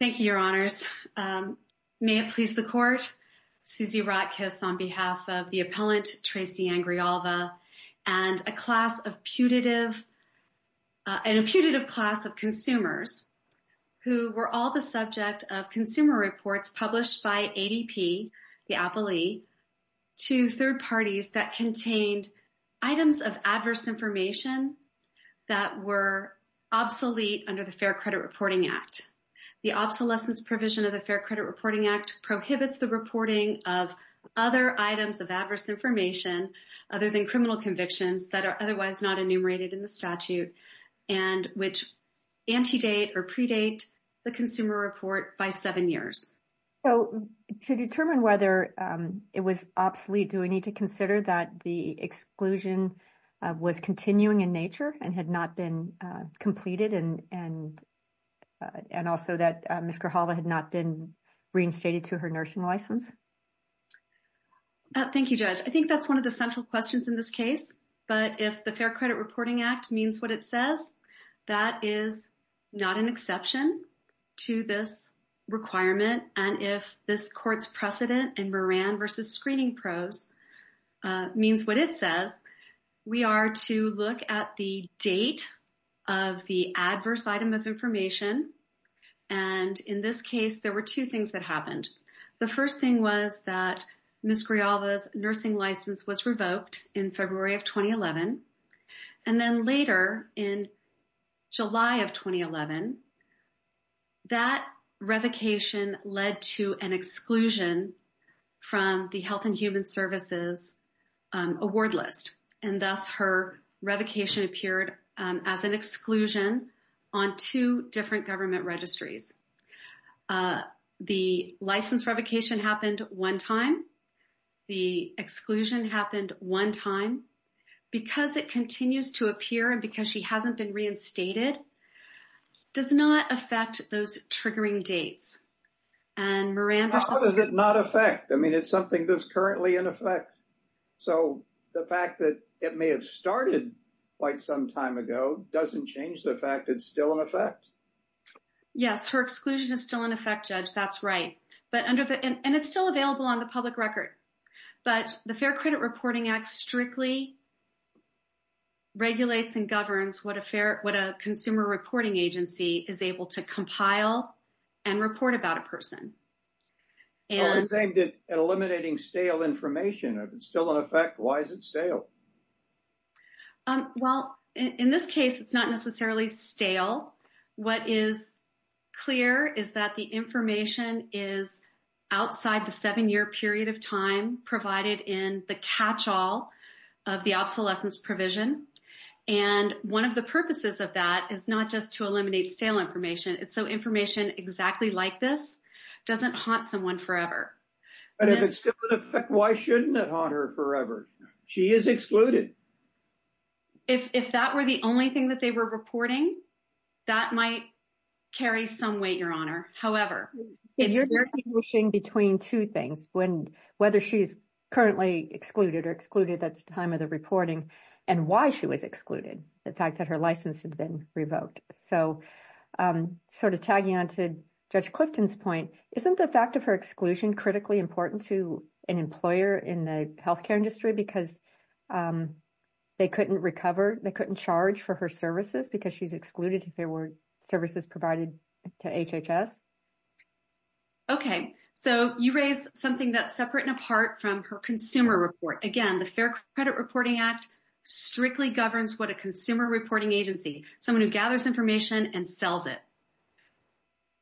Thank you, Your Honors. May it please the Court, Suzy Ratkis on behalf of the appellant Tracy Ann Grijalva and a putative class of consumers who were all the subject of consumer reports published by ADP, the appellee, to third parties that contained items of adverse information other than criminal convictions that are otherwise not enumerated in the statute and which antedate or predate the consumer report by seven years. So to determine whether it was obsolete, do we need to consider that the exclusion was continuing in nature and had not been completed and also that Ms. Grijalva had not been reinstated to her nursing license? Thank you, Judge. I think that's one of the central questions in this case, but if the Fair Credit Reporting Act means what it says, that is not an exception to this requirement. And if this Court's precedent in Moran v. Screening Pros means what it says, we are to look at the date of the adverse item of information. And in this case, there were two things that happened. The first thing was that Ms. Grijalva's nursing license was revoked in February of 2011. And then later in July of 2011, that revocation led to an exclusion from the Health and Human Services award list. And thus, her revocation appeared as an exclusion on two different government registries. The license revocation happened one time. The exclusion happened one time. Because it continues to appear and because she hasn't been reinstated, does not affect those triggering dates. How does it not affect? I mean, it's something that's currently in effect. So the fact that it may have started quite some time ago doesn't change the fact it's still in effect? Yes, her exclusion is still in effect, Judge. That's right. And it's still available on the public record. But the Fair Credit Reporting Act strictly regulates and governs what a consumer reporting agency is able to compile and report about a person. It's aimed at eliminating stale information. If it's still in effect, why is it stale? Well, in this case, it's not necessarily stale. What is clear is that the information is outside the seven-year period of time provided in the catch-all of the obsolescence provision. And one of the purposes of that is not just to eliminate stale information. It's so information exactly like this doesn't haunt someone forever. But if it's still in effect, why shouldn't it haunt her forever? She is excluded. If that were the only thing that they were reporting, that might carry some weight, Your Honor. However, you're distinguishing between two things, whether she's currently excluded or excluded at the time of the reporting and why she was excluded, the fact that her license had been revoked. So sort of tagging on to Judge Clifton's point, isn't the fact of her exclusion critically important to an employer in the healthcare industry because they couldn't recover, they couldn't charge for her services because she's excluded if there were services provided to HHS? Okay. So you raise something that's separate and apart from her consumer report. Again, the Fair Credit Reporting Act strictly governs what a consumer reporting agency, someone who gathers information and sells it.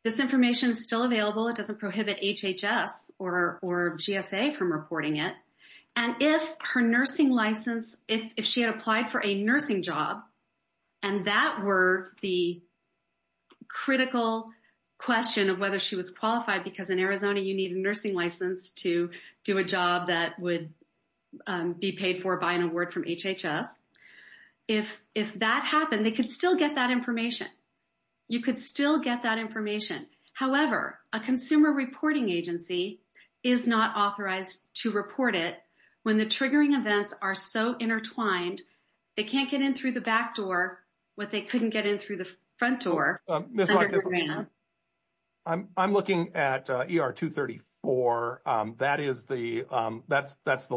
This information is still available. It doesn't prohibit HHS or GSA from reporting it. And if her nursing license, if she had applied for a nursing because in Arizona, you need a nursing license to do a job that would be paid for by an award from HHS. If that happened, they could still get that information. You could still get that information. However, a consumer reporting agency is not authorized to report it when the triggering events are so intertwined, they can't get in through the back door, what they couldn't get in through the front door. I'm looking at ER 234. That's the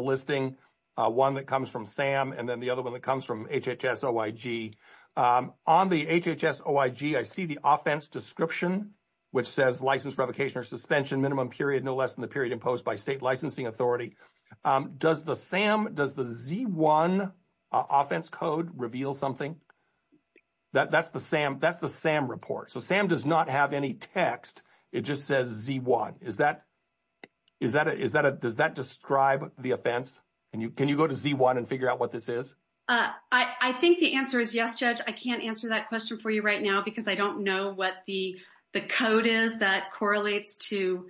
listing, one that comes from SAM, and then the other one that comes from HHS-OIG. On the HHS-OIG, I see the offense description, which says license revocation or suspension minimum period, no less than the period imposed by state licensing authority. Does the SAM, does the Z1 offense code reveal something? That's the SAM report. So, SAM does not have any text. It just says Z1. Does that describe the offense? Can you go to Z1 and figure out what this is? I think the answer is yes, Judge. I can't answer that question for you right now because I don't know what the code is that correlates to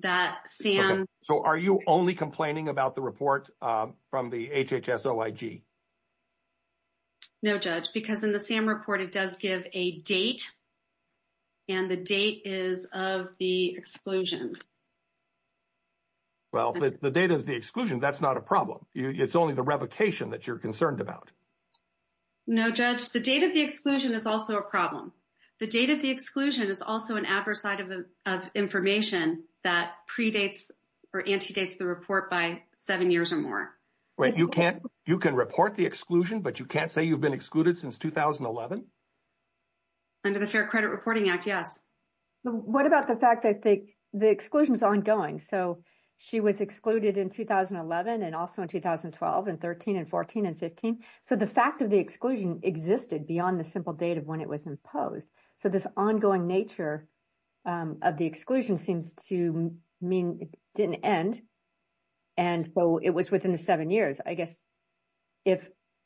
that SAM. So, are you only complaining about the report from the HHS-OIG? No, Judge, because in the SAM report, it does give a date, and the date is of the exclusion. Well, the date of the exclusion, that's not a problem. It's only the revocation that you're concerned about. No, Judge, the date of the exclusion is also a problem. The date of the exclusion is also an adversary of information that predates or antedates the report by seven years or more. Wait, you can't, you can report the exclusion, but you can't say you've been excluded since 2011? Under the Fair Credit Reporting Act, yes. What about the fact that the exclusion is ongoing? So, she was excluded in 2011, and also in 2012, and 13, and 14, and 15. So, the fact of the exclusion existed beyond the simple date of when it was imposed. So, this ongoing nature of the exclusion seems to mean it didn't end, and so it was within the seven years. I guess, if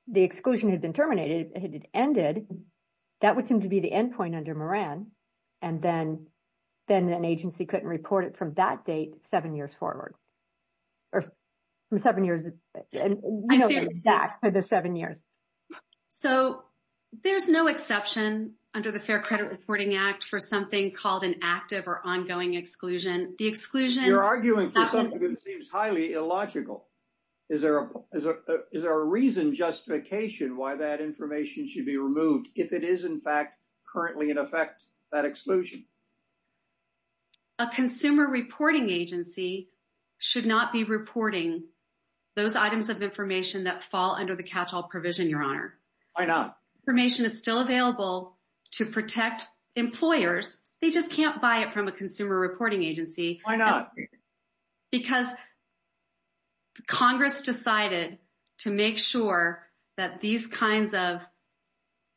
the exclusion had been terminated, it ended, that would seem to be the endpoint under Moran, and then an agency couldn't report it from that date seven years forward. Or from seven years, you know, back to the seven years. So, there's no exception under the Fair Credit Reporting Act for something called an active or ongoing exclusion. The exclusion... You're arguing for something that seems highly illogical. Is there a reason, justification why that information should be removed if it is, in fact, currently in effect, that exclusion? A consumer reporting agency should not be reporting those items of information that fall under the catch-all provision, Your Honor. Why not? Information is still available to protect employers. They just can't buy it from a consumer reporting agency. Why not? Because Congress decided to make sure that these kinds of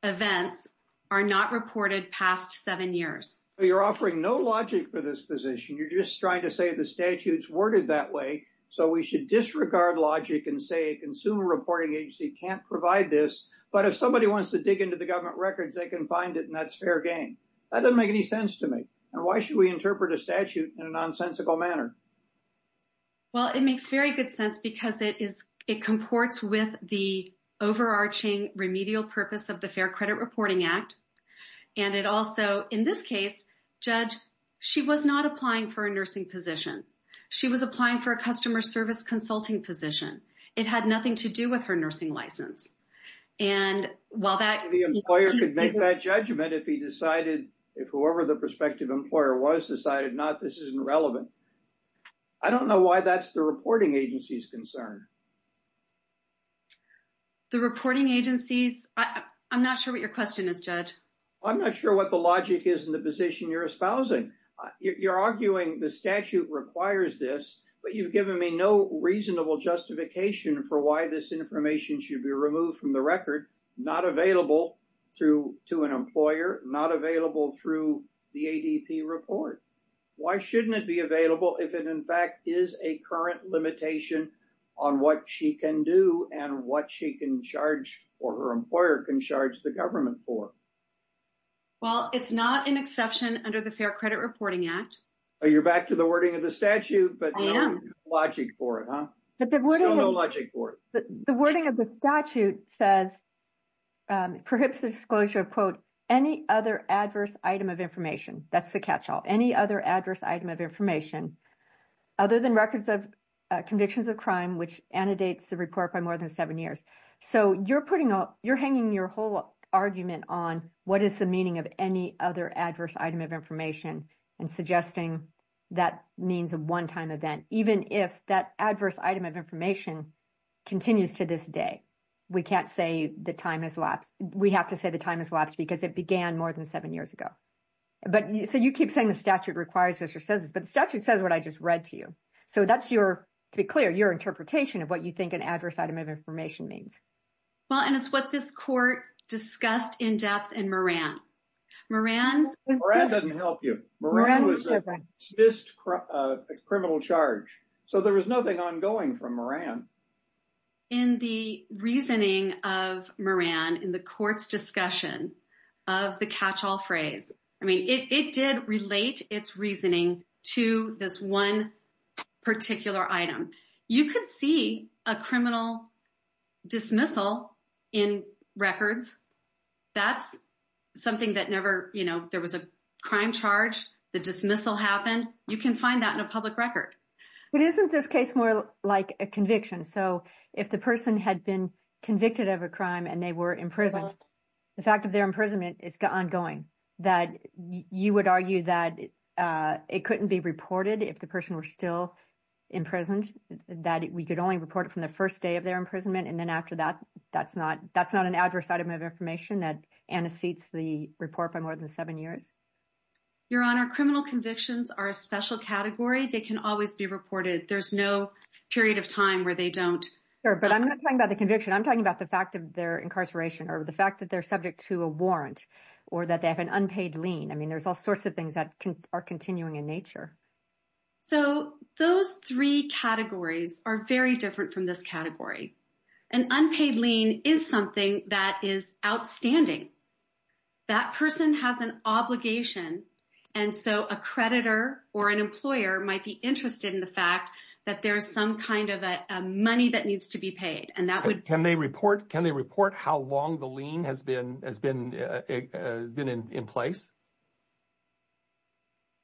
events are not reported past seven years. You're offering no logic for this position. You're just trying to say the statute's worded that way, so we should disregard logic and say a consumer reporting agency can't provide this. But if somebody wants to dig into the government records, they can find it and that's fair game. That doesn't make any sense to me. And why should we interpret a statute in a nonsensical manner? Well, it makes very good sense because it is... It comports with the overarching remedial purpose of the Fair Credit Reporting Act. And it also, in this case, Judge, she was not applying for a nursing position. She was applying for a customer service consulting position. It had nothing to do with her nursing license. And while that... The employer could make that judgment if he decided... If whoever the prospective employer was decided not, this isn't relevant. I don't know why that's the reporting agency's concern. The reporting agency's... I'm not sure what your question is, Judge. I'm not sure what the logic is in the position you're espousing. You're arguing the statute requires this, but you've given me no reasonable justification for why this information should be removed from the record, not available to an employer, not available through the ADP report. Why shouldn't it be available if it, in fact, is a current limitation on what she can do and what she can charge or her employer can the government for? Well, it's not an exception under the Fair Credit Reporting Act. You're back to the wording of the statute, but no logic for it, huh? Still no logic for it. The wording of the statute says, perhaps a disclosure of, quote, any other adverse item of information. That's the catch-all. Any other adverse item of information other than records of convictions of crime, which annotates the report by more than seven years. So you're hanging your whole argument on what is the meaning of any other adverse item of information and suggesting that means a one-time event, even if that adverse item of information continues to this day. We can't say the time has lapsed. We have to say the time has lapsed because it began more than seven years ago. So you keep saying the statute requires this or says this, but the statute says what I just read to you. So that's your, to be clear, your interpretation of what you think an adverse item of information means. Well, and it's what this court discussed in depth in Moran. Moran's- Moran doesn't help you. Moran was a dismissed criminal charge. So there was nothing ongoing from Moran. In the reasoning of Moran in the court's discussion of the catch-all phrase, I mean, it did relate its reasoning to this one particular item. You could see a criminal dismissal in records. That's something that never, you know, there was a crime charge, the dismissal happened. You can find that in a public record. But isn't this case more like a conviction? So if the person had been convicted of a crime and they were imprisoned, the fact of their imprisonment is ongoing, that you would argue that it couldn't be reported if the person were still imprisoned, that we could only report it from the first day of their imprisonment. And then after that, that's not an adverse item of information that antecedents the report by more than seven years. Your Honor, criminal convictions are a special category. They can always be reported. There's no period of time where they don't- Sure, but I'm not talking about the conviction. I'm talking about the fact of their incarceration or the fact that they're subject to a warrant or that they have an unpaid lien. I mean, there's all sorts of things that are continuing in nature. So those three categories are very different from this category. An unpaid lien is something that is outstanding. That person has an obligation. And so a creditor or an employer might be interested in the fact that there's some kind of a money that needs to be paid. Can they report how long the lien has been in place?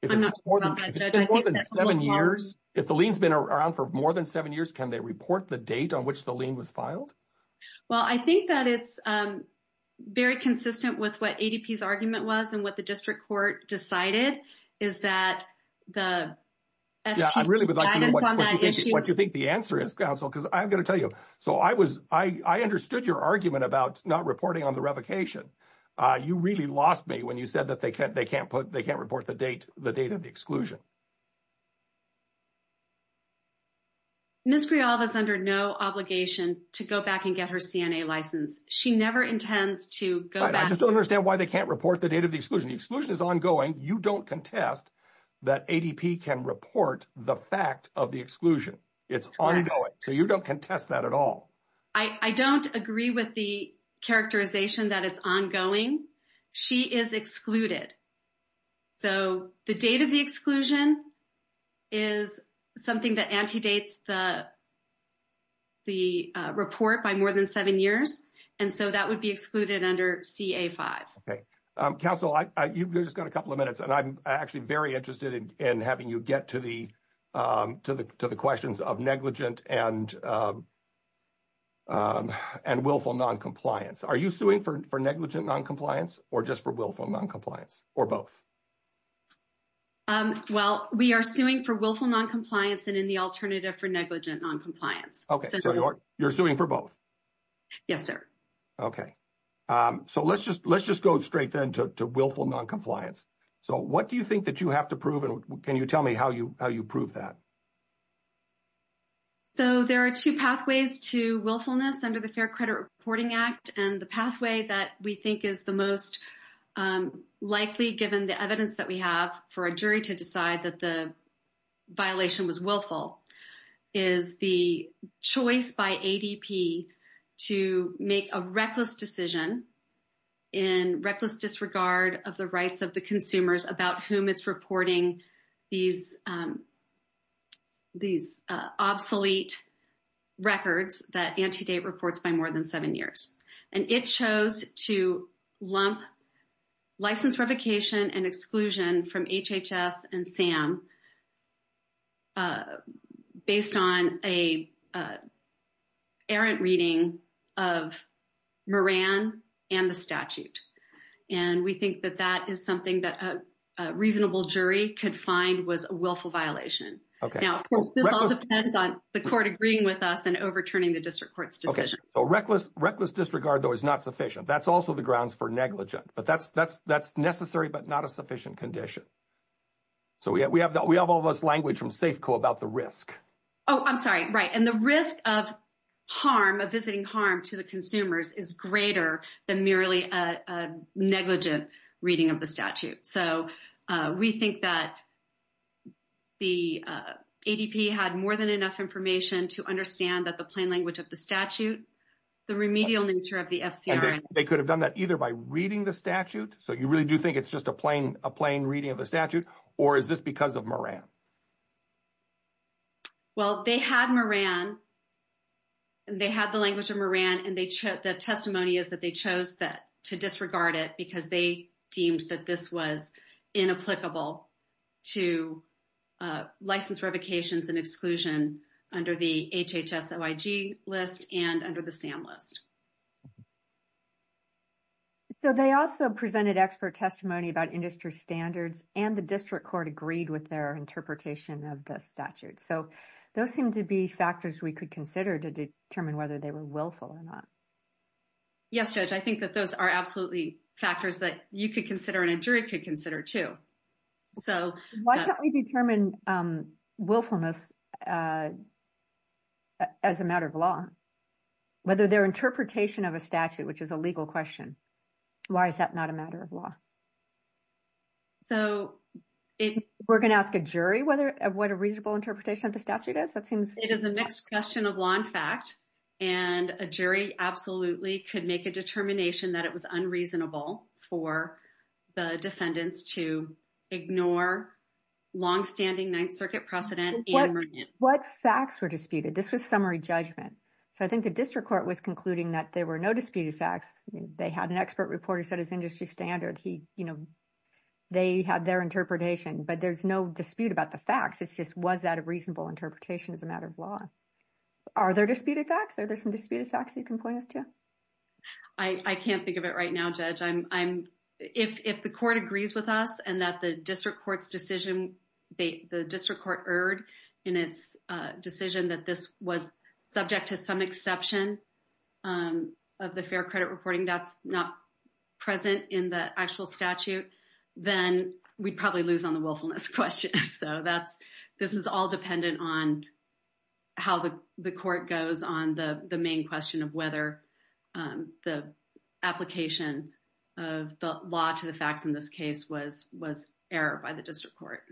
I'm not sure about that, Judge. If it's more than seven years, if the lien's been around for more than seven years, can they report the date on which the lien was filed? Well, I think that it's very consistent with what ADP's argument was and what the district court decided is that the- Yeah, I really would like to know what you think the answer is, Counsel, because I've got to tell you. I understood your argument about not reporting on the revocation. You really lost me when you said that they can't report the date of the exclusion. Ms. Grijalva's under no obligation to go back and get her CNA license. She never intends to go back- I just don't understand why they can't report the date of the exclusion. The exclusion is ongoing. You don't contest that ADP can report the fact of exclusion. It's ongoing. So, you don't contest that at all. I don't agree with the characterization that it's ongoing. She is excluded. So, the date of the exclusion is something that antedates the report by more than seven years. And so, that would be excluded under CA-5. Okay. Counsel, you've just got a couple of the questions of negligent and willful noncompliance. Are you suing for negligent noncompliance or just for willful noncompliance or both? Well, we are suing for willful noncompliance and in the alternative for negligent noncompliance. Okay. So, you're suing for both? Yes, sir. Okay. So, let's just go straight then to willful noncompliance. So, what do you think you have to prove and can you tell me how you prove that? So, there are two pathways to willfulness under the Fair Credit Reporting Act and the pathway that we think is the most likely given the evidence that we have for a jury to decide that the violation was willful is the choice by ADP to make a reckless decision in reckless disregard of the rights of the reporting these obsolete records that antedate reports by more than seven years. And it chose to lump license revocation and exclusion from HHS and SAM based on an errant reading of Moran and the statute. And we think that that is something that a reasonable jury could find was a willful violation. Now, this all depends on the court agreeing with us and overturning the district court's decision. Okay. So, reckless disregard, though, is not sufficient. That's also the grounds for negligent, but that's necessary, but not a sufficient condition. So, we have all this language from SAFCO about the risk. Oh, I'm sorry. Right. And the risk of harm, of visiting harm to the consumers is greater than merely a negligent reading of the statute. So, we think that the ADP had more than enough information to understand that the plain language of the statute, the remedial nature of the FCRN. They could have done that either by reading the statute. So, you really do think it's just a plain reading of the statute, or is this because of Moran? Well, they had Moran, and they had the language of Moran, and the testimony is that they chose to disregard it because they deemed that this was inapplicable to license revocations and exclusion under the HHS-OIG list and under the SAM list. So, they also presented expert testimony about the interpretation of the statute. So, those seem to be factors we could consider to determine whether they were willful or not. Yes, Judge, I think that those are absolutely factors that you could consider and a jury could consider too. So- Why don't we determine willfulness as a matter of law? Whether their interpretation of a statute, which is a legal question, why is that not a matter of law? So- We're going to ask a jury what a reasonable interpretation of the statute is? That seems- It is a mixed question of law and fact, and a jury absolutely could make a determination that it was unreasonable for the defendants to ignore longstanding Ninth Circuit precedent and Moran. What facts were disputed? This was summary judgment. So, I think the district court was concluding that there were no disputed facts. They had an you know, they had their interpretation, but there's no dispute about the facts. It's just, was that a reasonable interpretation as a matter of law? Are there disputed facts? Are there some disputed facts you can point us to? I can't think of it right now, Judge. If the court agrees with us and that the district court's decision, the district court erred in its decision that this was subject to some exception of the fair credit reporting, that's not present in the actual statute, then we'd probably lose on the willfulness question. So, this is all dependent on how the court goes on the main question of whether the application of the law to the facts in this case was errored by the district court.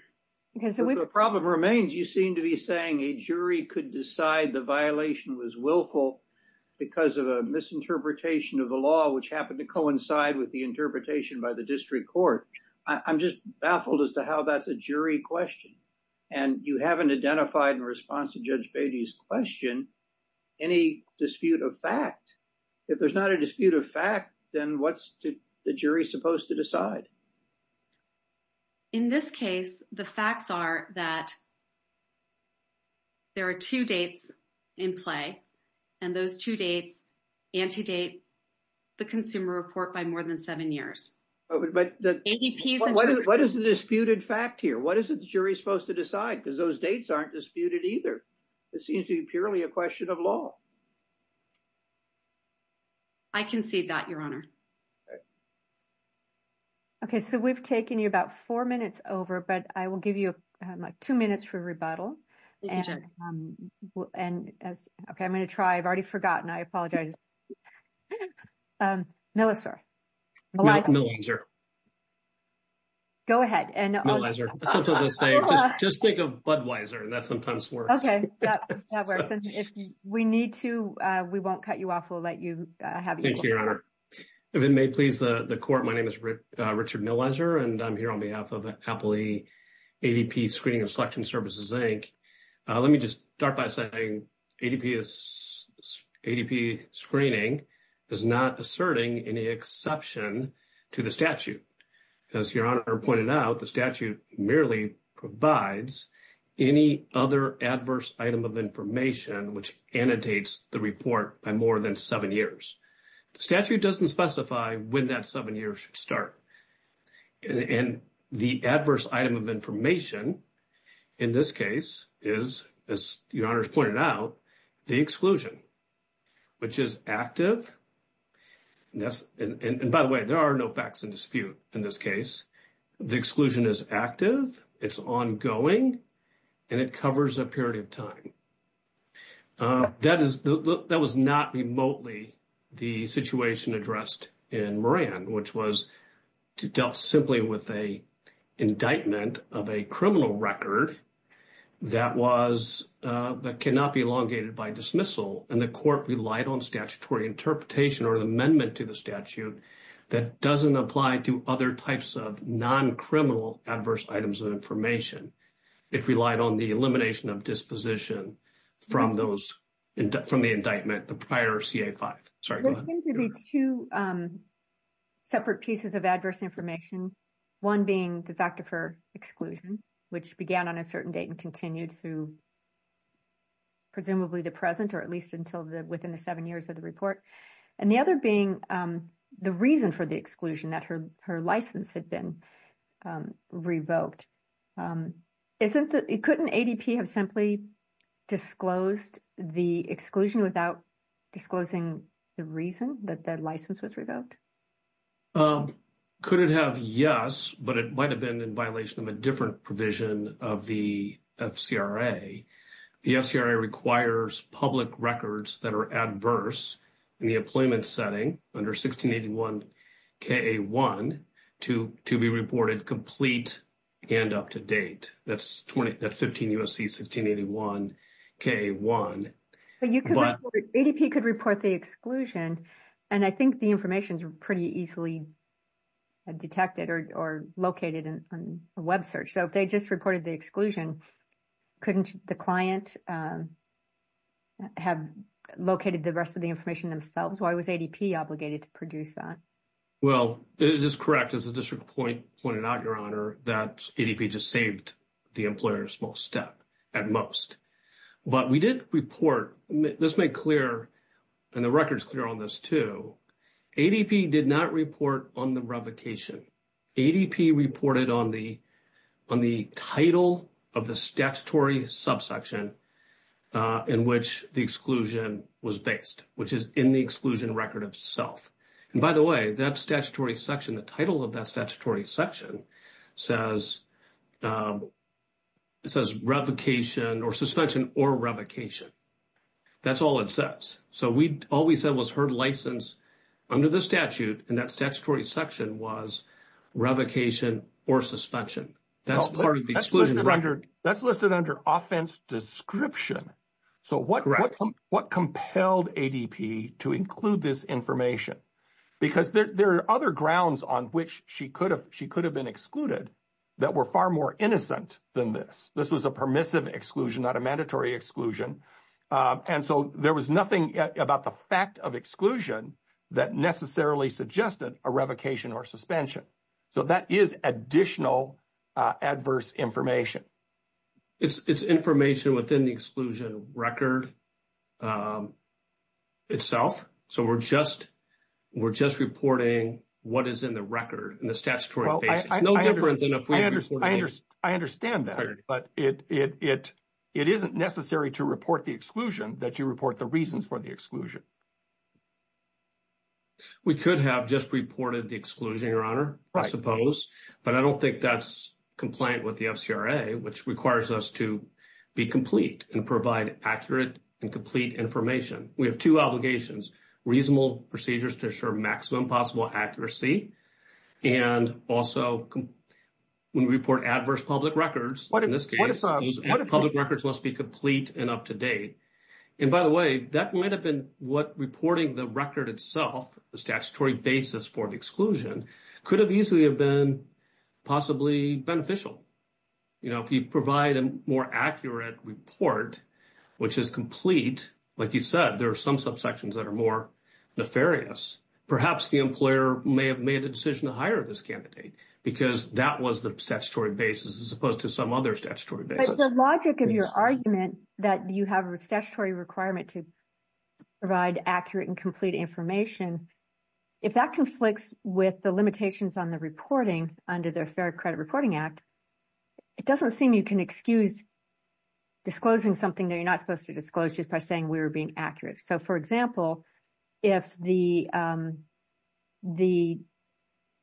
So, the problem remains, you seem to be saying a jury could decide the violation was willful because of a misinterpretation of the law, which happened to coincide with the interpretation by the district court. I'm just baffled as to how that's a jury question. And you haven't identified in response to Judge Beatty's question, any dispute of fact. If there's not a dispute of fact, then what's the jury supposed to decide? In this case, the facts are that there are two dates in play and those two dates antedate the consumer report by more than seven years. But what is the disputed fact here? What is it the jury supposed to decide? Because those dates aren't disputed either. It seems to be purely a question of law. I concede that, Your Honor. Okay. So, we've taken you about four minutes over, but I will give you two minutes for rebuttal. Okay. I'm going to try. I've already forgotten. I apologize. Milliser. Go ahead. Just think of Budweiser. That sometimes works. Okay. If we need to, we won't cut you off. We'll let you have it. Thank you, Your Honor. If it may please the court, my name is Richard Milliser, and I'm here on behalf of Appley ADP Screening and Selection Services, Inc. Let me just start by saying ADP screening is not asserting any exception to the statute. As Your Honor pointed out, the statute merely provides any other adverse item of information which annotates the report by more than seven years. The statute doesn't specify when that year should start. And the adverse item of information in this case is, as Your Honor's pointed out, the exclusion, which is active. And by the way, there are no facts in dispute in this case. The exclusion is active, it's ongoing, and it covers a period of time. That was not remotely the situation addressed in Moran, which was dealt simply with an indictment of a criminal record that cannot be elongated by dismissal. And the court relied on statutory interpretation or an amendment to the statute that doesn't apply to other types of non-criminal adverse items of information. It relied on the elimination of disposition from the indictment, the prior CA-5. Sorry, go ahead. There seem to be two separate pieces of adverse information, one being the fact of her exclusion, which began on a certain date and continued through presumably the present or at least until within the seven years of the report. And the other being the reason for the exclusion, that her license had been revoked. Couldn't ADP have simply disclosed the exclusion without disclosing the reason that the license was revoked? Could it have? Yes, but it might have been in violation of a different provision of the FCRA. The FCRA requires public records that are adverse in the employment setting under 1681 CA-1 to be reported complete and up to date. That's 15 U.S.C. 1681 CA-1. ADP could report the exclusion, and I think the information's pretty easily detected or located in a web search. So if they just reported the exclusion, couldn't the client have located the rest of the information themselves? Why was ADP obligated to produce that? Well, it is correct, as the district pointed out, Your Honor, that ADP just saved the employer a small step at most. But we did report, this made clear, and the record's clear on this too, ADP did not report on the revocation. ADP reported on the title of the statutory subsection in which the exclusion was based, which is in the exclusion record itself. And by the way, that statutory section, the title of that statutory section says revocation or suspension or revocation. That's all it says. So all we said was her license under the statute, and that statutory section was revocation or suspension. That's part of the exclusion record. That's listed under offense description. So what compelled ADP to include this information? Because there are other grounds on which she could have been excluded that were far more innocent than this. This was a permissive exclusion, not a mandatory exclusion. And so there was nothing about the fact of exclusion that necessarily suggested a revocation or suspension. So that is additional adverse information. It's information within the exclusion record itself. So we're just reporting what is in the record and the statutory basis. No different than I understand that, but it isn't necessary to report the exclusion that you report the reasons for the exclusion. We could have just reported the exclusion, Your Honor, I suppose, but I don't think that's compliant with the FCRA, which requires us to be complete and provide accurate and complete information. We have two obligations, reasonable procedures to assure maximum possible accuracy. And also when we report adverse public records, in this case, public records must be complete and up to date. And by the way, that might have been what reporting the record itself, the statutory basis for the exclusion, could have easily have been possibly beneficial. You know, if you provide a more accurate report, which is complete, like you said, there are some subsections that are more nefarious. Perhaps the employer may have made a decision to hire this candidate because that was the statutory basis as opposed to some other statutory basis. But the logic of your argument that you have a statutory requirement to provide accurate and complete information, if that conflicts with the limitations on the reporting under the Fair Credit Reporting Act, it doesn't seem you can excuse disclosing something that you're not supposed to disclose just by saying we were being accurate. So for example, if the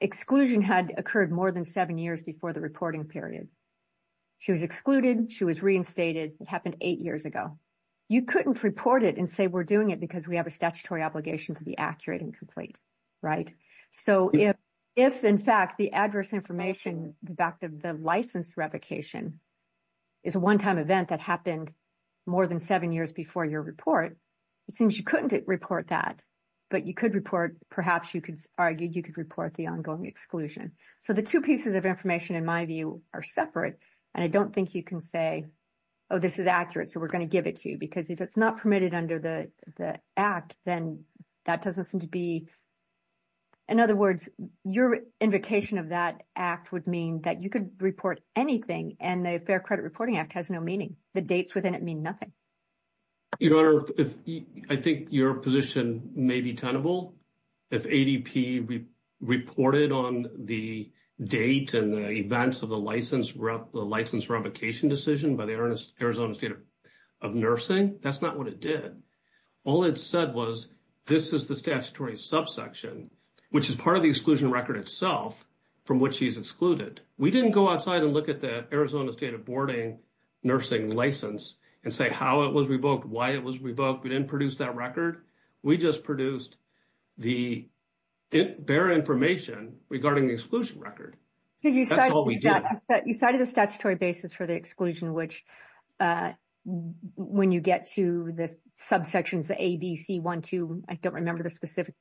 exclusion had occurred more than seven years before the reporting period, she was excluded, she was reinstated, it happened eight years ago. You couldn't report it and say we're doing it because we have a statutory obligation to be accurate and complete, right? So if, in fact, the adverse information back to the license revocation is a one-time event that happened more than seven years before your report, it seems you couldn't report that. But you could report, perhaps you could argue you could report the ongoing exclusion. So the two pieces of information, in my view, are separate. And I don't think you can say, oh, this is accurate, so we're going to give it to you. Because if it's not permitted under the Act, then that doesn't seem to be in other words, your invocation of that Act would mean that you could report anything and the Fair Credit Reporting Act has no meaning. The dates within it mean nothing. Your Honor, I think your position may be tenable. If ADP reported on the date and the events of the license revocation decision by the Arizona State of Nursing, that's not what it did. All it said was this is the statutory subsection, which is part of the exclusion record itself from which she's excluded. We didn't go outside and look at the Arizona State Nursing license and say how it was revoked, why it was revoked. We didn't produce that record. We just produced the bare information regarding the exclusion record. That's all we did. You cited the statutory basis for the exclusion, which when you get to the subsections A, B, C, 1, 2, I don't remember the specific.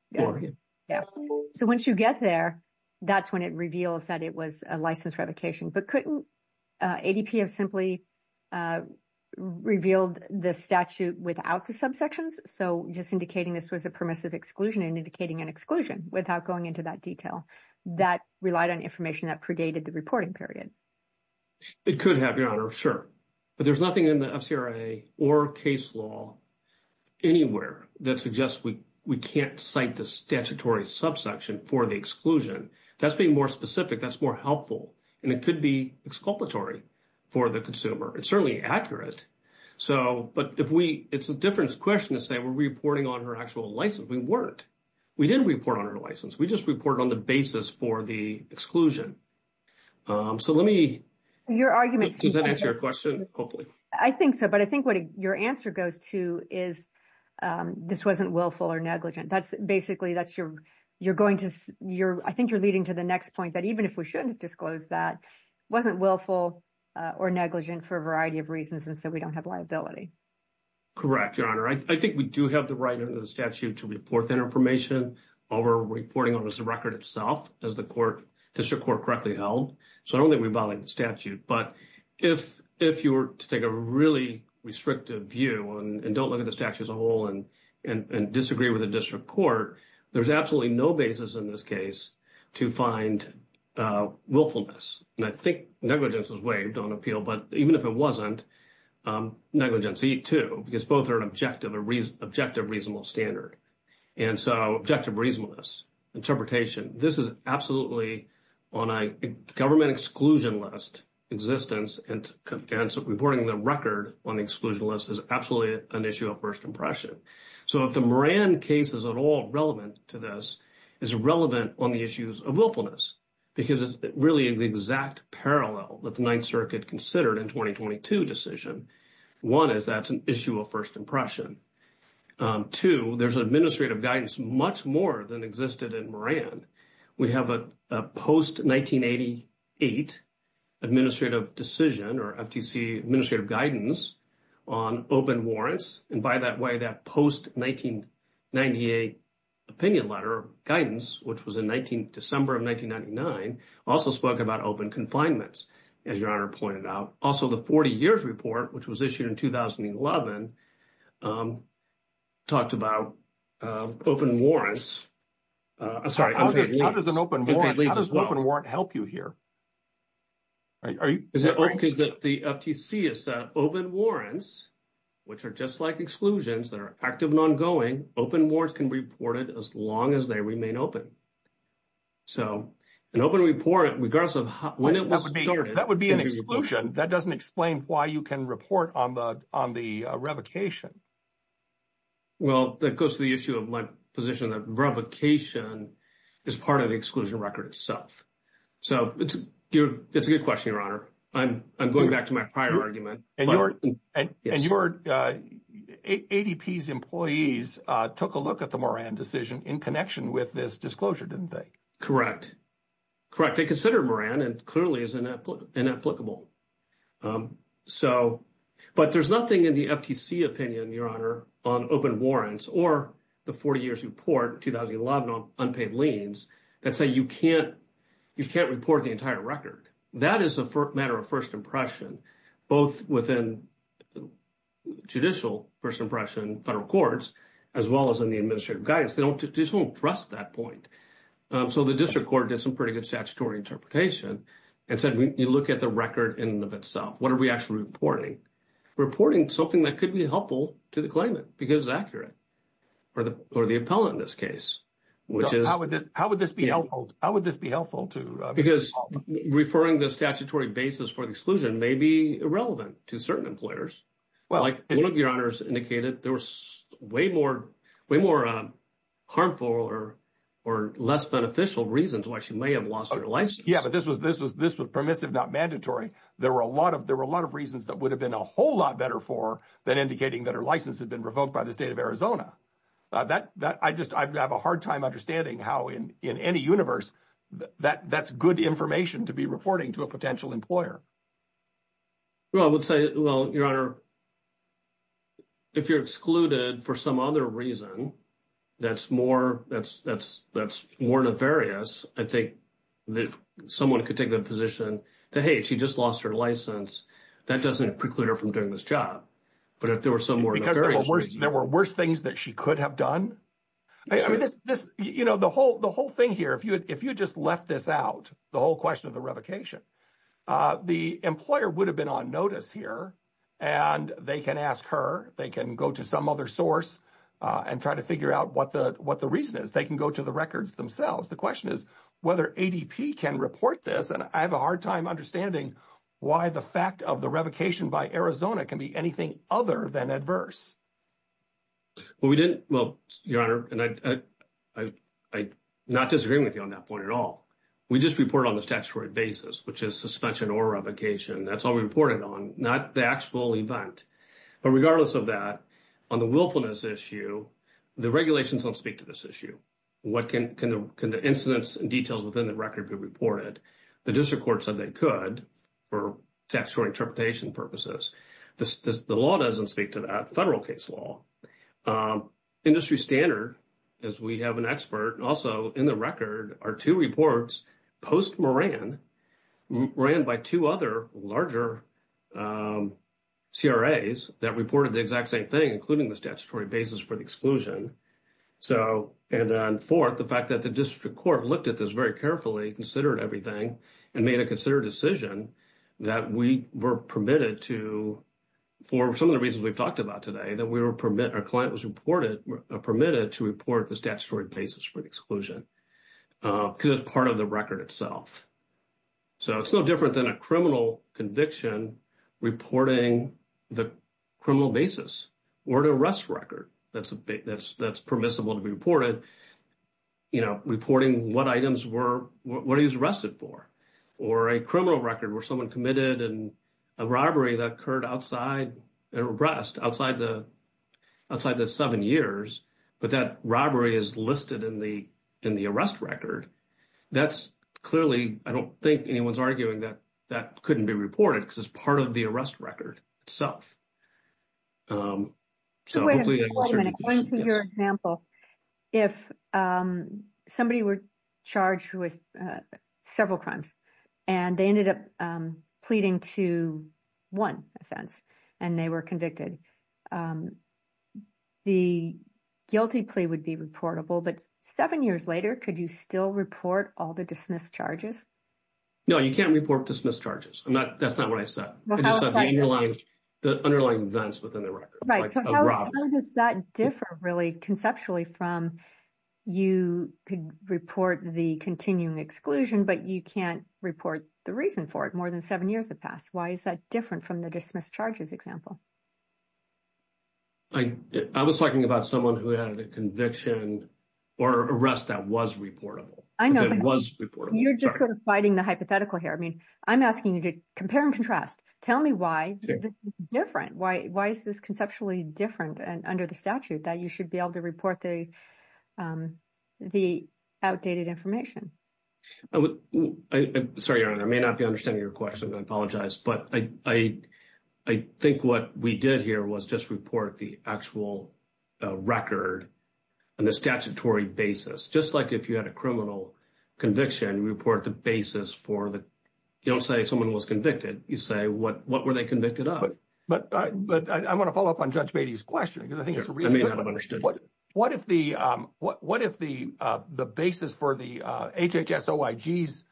So once you get there, that's when it reveals that it was a license revocation. But couldn't ADP have simply revealed the statute without the subsections? So just indicating this was a permissive exclusion and indicating an exclusion without going into that detail. That relied on information that predated the reporting period. It could have, Your Honor, sure. But there's nothing in the FCRA or case law anywhere that suggests we can't cite the statutory subsection for the exclusion. That's being more specific. That's more helpful. And it could be exculpatory for the consumer. It's certainly accurate. But it's a different question to say we're reporting on her actual license. We weren't. We didn't report on her license. We just reported on the basis for the exclusion. Does that answer your question? Hopefully. I think so. But I think what your answer goes to is this wasn't willful or negligent. Basically, I think you're leading to the next point that even if we shouldn't disclose that, wasn't willful or negligent for a variety of reasons. And so we don't have liability. Correct, Your Honor. I think we do have the right under the statute to report that information over reporting on the record itself as the district court correctly held. So I don't think we violate the statute. But if you were to take a really restrictive view and don't look at the statute as a whole and disagree with the district court, there's absolutely no basis in this case to find willfulness. And I think negligence was waived on appeal. But even if it wasn't, negligency, too, because both are an objective or objective reasonable standard. And so objective reasonableness, interpretation. This is absolutely on a government exclusion list existence and reporting the record on the exclusion list is absolutely an issue of first impression. So if the Moran case is at all relevant to this, it's relevant on the issues of willfulness because it's really the exact parallel that the Ninth Circuit considered in 2022 decision. One is that's an issue of first impression. Two, there's administrative guidance much more than existed in Moran. We have a post 1988 administrative decision or FTC administrative guidance on open warrants. And by that way, that post 1998 opinion letter guidance, which was in December of 1999, also spoke about open confinements, as your honor pointed out. Also, the 40 years report, which was issued in 2011, talked about open warrants. How does an open warrant help you here? The FTC has said open warrants, which are just like exclusions that are active and ongoing, open warrants can be reported as long as they remain open. So an open report, regardless of when it was started. That would be an exclusion. That doesn't explain why you can report on the revocation. Well, that goes to the issue of my position that revocation is part of the exclusion record itself. So it's a good question, your honor. I'm going back to my prior argument. And ADP's employees took a look at the Moran decision in connection with this disclosure, didn't they? Correct. Correct. They considered Moran and clearly is inapplicable. So, but there's nothing in the FTC opinion, your honor, on open warrants or the 40 years report 2011 on unpaid liens that say you can't report the entire record. That is a matter of first impression, both within judicial first impression, federal courts, as well as in the administrative guidance. They just won't trust that point. So the district court did some pretty good statutory interpretation and said, you look at the record in and of itself. What are we actually reporting? Reporting something that could be helpful to the claimant because it's accurate or the appellant in this case, which is. How would this be helpful? How would this be helpful to? Because referring the statutory basis for the exclusion may be irrelevant to certain employers. Well, like one of your honors indicated, there was way more way more harmful or or less beneficial reasons why she may have lost her license. Yeah, but this was this was this was permissive, not mandatory. There were a lot of there were a lot of reasons that would have been a whole lot better for than indicating that her license had been revoked by the state of Arizona. That that I just I have a hard time understanding how in in any universe that that's good information to be reporting to a potential employer. Well, I would say, well, your honor. If you're excluded for some other reason, that's more. That's that's that's more nefarious. I think that someone could take the position that, hey, she just lost her license. That doesn't preclude her from doing this job. But if there were some more, there were worse things that she could have done. I mean, this, you know, the whole the whole thing here, if you if you just left this out, the whole question of the revocation, the employer would have been on notice here and they can ask her. They can go to some other source and try to figure out what the what the reason is. They can go to the records themselves. The question is whether ADP can report this. And I have a hard time understanding why the fact of the revocation by Arizona can be anything other than adverse. Well, we didn't. Well, your honor, and I I I not disagree with you on that at all. We just report on the statutory basis, which is suspension or revocation. That's all we reported on, not the actual event. But regardless of that, on the willfulness issue, the regulations don't speak to this issue. What can the incidents and details within the record be reported? The district court said they could for textual interpretation purposes. The law doesn't speak to that federal case law. Industry standard is we have an expert also in the record are two reports post Moran ran by two other larger. CRA's that reported the exact same thing, including the statutory basis for the exclusion. So and on 4th, the fact that the district court looked at this very carefully, considered everything and made a consider decision that we were permitted to. For some of the reasons we've talked about today that we were permit our client was reported permitted to report the statutory basis for the exclusion. Could part of the record itself. So it's no different than a criminal conviction reporting the criminal basis or to arrest record. That's a big that's that's permissible to be reported. You know, reporting what items were what he was arrested for or a criminal record where someone committed and a robbery that occurred outside arrest outside the. Outside the seven years, but that robbery is listed in the in the arrest record. That's clearly I don't think anyone's arguing that that couldn't be reported because it's part of the arrest record itself. So hopefully according to your example, if somebody were charged with several crimes and they ended up pleading to one offense and they were convicted. The guilty plea would be reportable, but seven years later, could you still report all the dismissed charges? No, you can't report dismissed charges. I'm not. That's not what I said. The underlying events within the record, right? So how does that differ really conceptually from you could report the continuing exclusion, but you can't report the reason for it? More than seven years have passed. Why is that different from the dismissed charges example? I I was talking about someone who had a conviction or arrest that was reportable. I know it was. You're just sort of fighting the hypothetical here. I mean, I'm asking you to compare and contrast. Tell me why this is different. Why? Why is this conceptually different and under the statute that you should be able to report the the outdated information? Sorry, I may not be understanding your question. I apologize, but I think what we did here was just report the actual record and the statutory basis, just like if you had a criminal conviction, report the basis for that. You don't say someone was convicted. You say what? What were they convicted of? But but I want to follow up on Judge Beatty's question because I think it's really understood. What if the basis for the HHS OIG's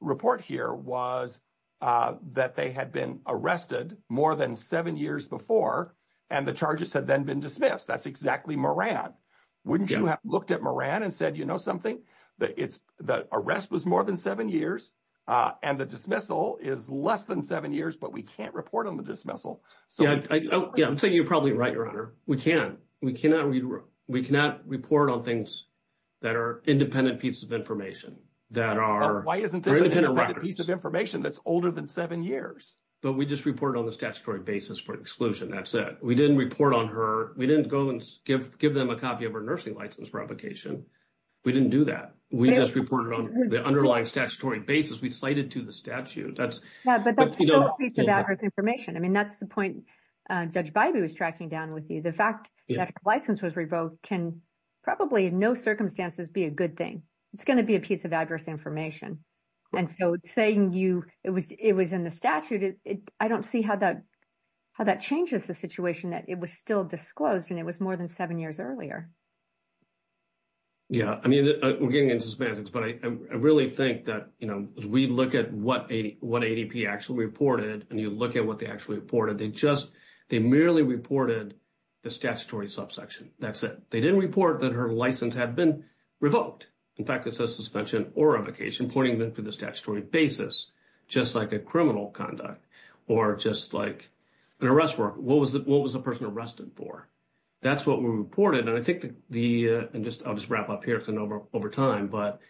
report here was that they had been arrested more than seven years before and the charges had then been dismissed? That's exactly Moran. Wouldn't you have looked at Moran and said, you know, something that it's the arrest was more than seven years and the dismissal is less than seven years, but we can't report on the dismissal. Yeah, I'm saying you're probably right, Your Honor. We can't. We cannot. We cannot report on things that are independent pieces of information that are independent pieces of information that's older than seven years. But we just report on the statutory basis for exclusion. That's it. We didn't report on her. We didn't go and give give them a copy of her nursing license replication. We didn't do that. We just reported on the underlying statutory basis we cited to the Judge Beatty was tracking down with you. The fact that her license was revoked can probably in no circumstances be a good thing. It's going to be a piece of adverse information. And so saying you it was it was in the statute, I don't see how that how that changes the situation that it was still disclosed and it was more than seven years earlier. Yeah, I mean, we're getting into suspense, but I really think that, you know, as we look at what ADP actually reported and you look at what they actually reported, they just they merely reported the statutory subsection. That's it. They didn't report that her license had been revoked. In fact, it says suspension or evocation pointing them to the statutory basis, just like a criminal conduct or just like an arrest warrant. What was that? What was the person arrested for? That's what we reported. And I think the and just I'll just wrap up here over over time. But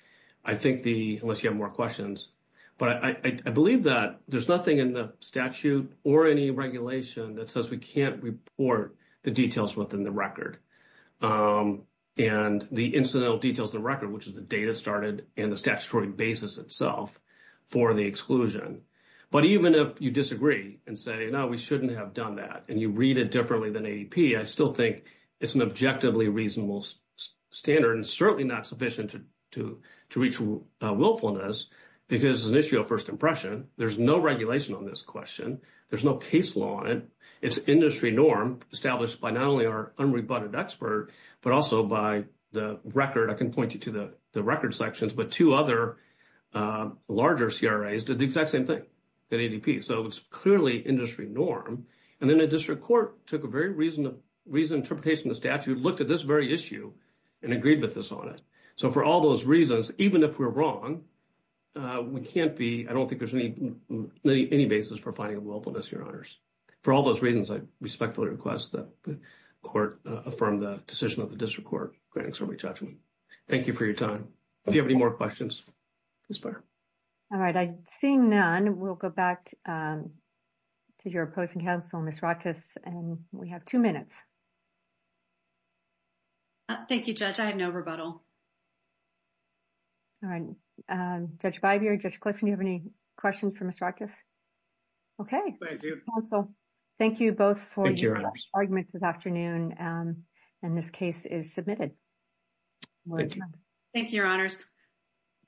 I think the unless you have questions, but I believe that there's nothing in the statute or any regulation that says we can't report the details within the record. And the incidental details of the record, which is the data started in the statutory basis itself for the exclusion. But even if you disagree and say, no, we shouldn't have done that, and you read it differently than ADP, I still think it's an objectively reasonable standard and certainly not sufficient to reach willfulness because it's an issue of first impression. There's no regulation on this question. There's no case law on it. It's industry norm established by not only our unrebutted expert, but also by the record. I can point you to the record sections, but two other larger CRAs did the exact same thing that ADP. So it's clearly industry norm. And then the district court took a very reasonable reason interpretation of the statute, looked at this very issue and agreed with this on it. So for all those reasons, even if we're wrong, we can't be I don't think there's any basis for finding a willfulness, your honors. For all those reasons, I respectfully request that the court affirmed the decision of the district court granting summary judgment. Thank you for your time. If you have any more questions. This far. All right. I'm seeing none. We'll go back to your opposing counsel, Ms. Rockus, and we have two minutes. Thank you, Judge. I have no rebuttal. All right. Judge Bivier, Judge Clifton, do you have any questions for Ms. Rockus? Okay. Thank you. Thank you both for your arguments this afternoon. And this case is submitted. Thank you, your honors.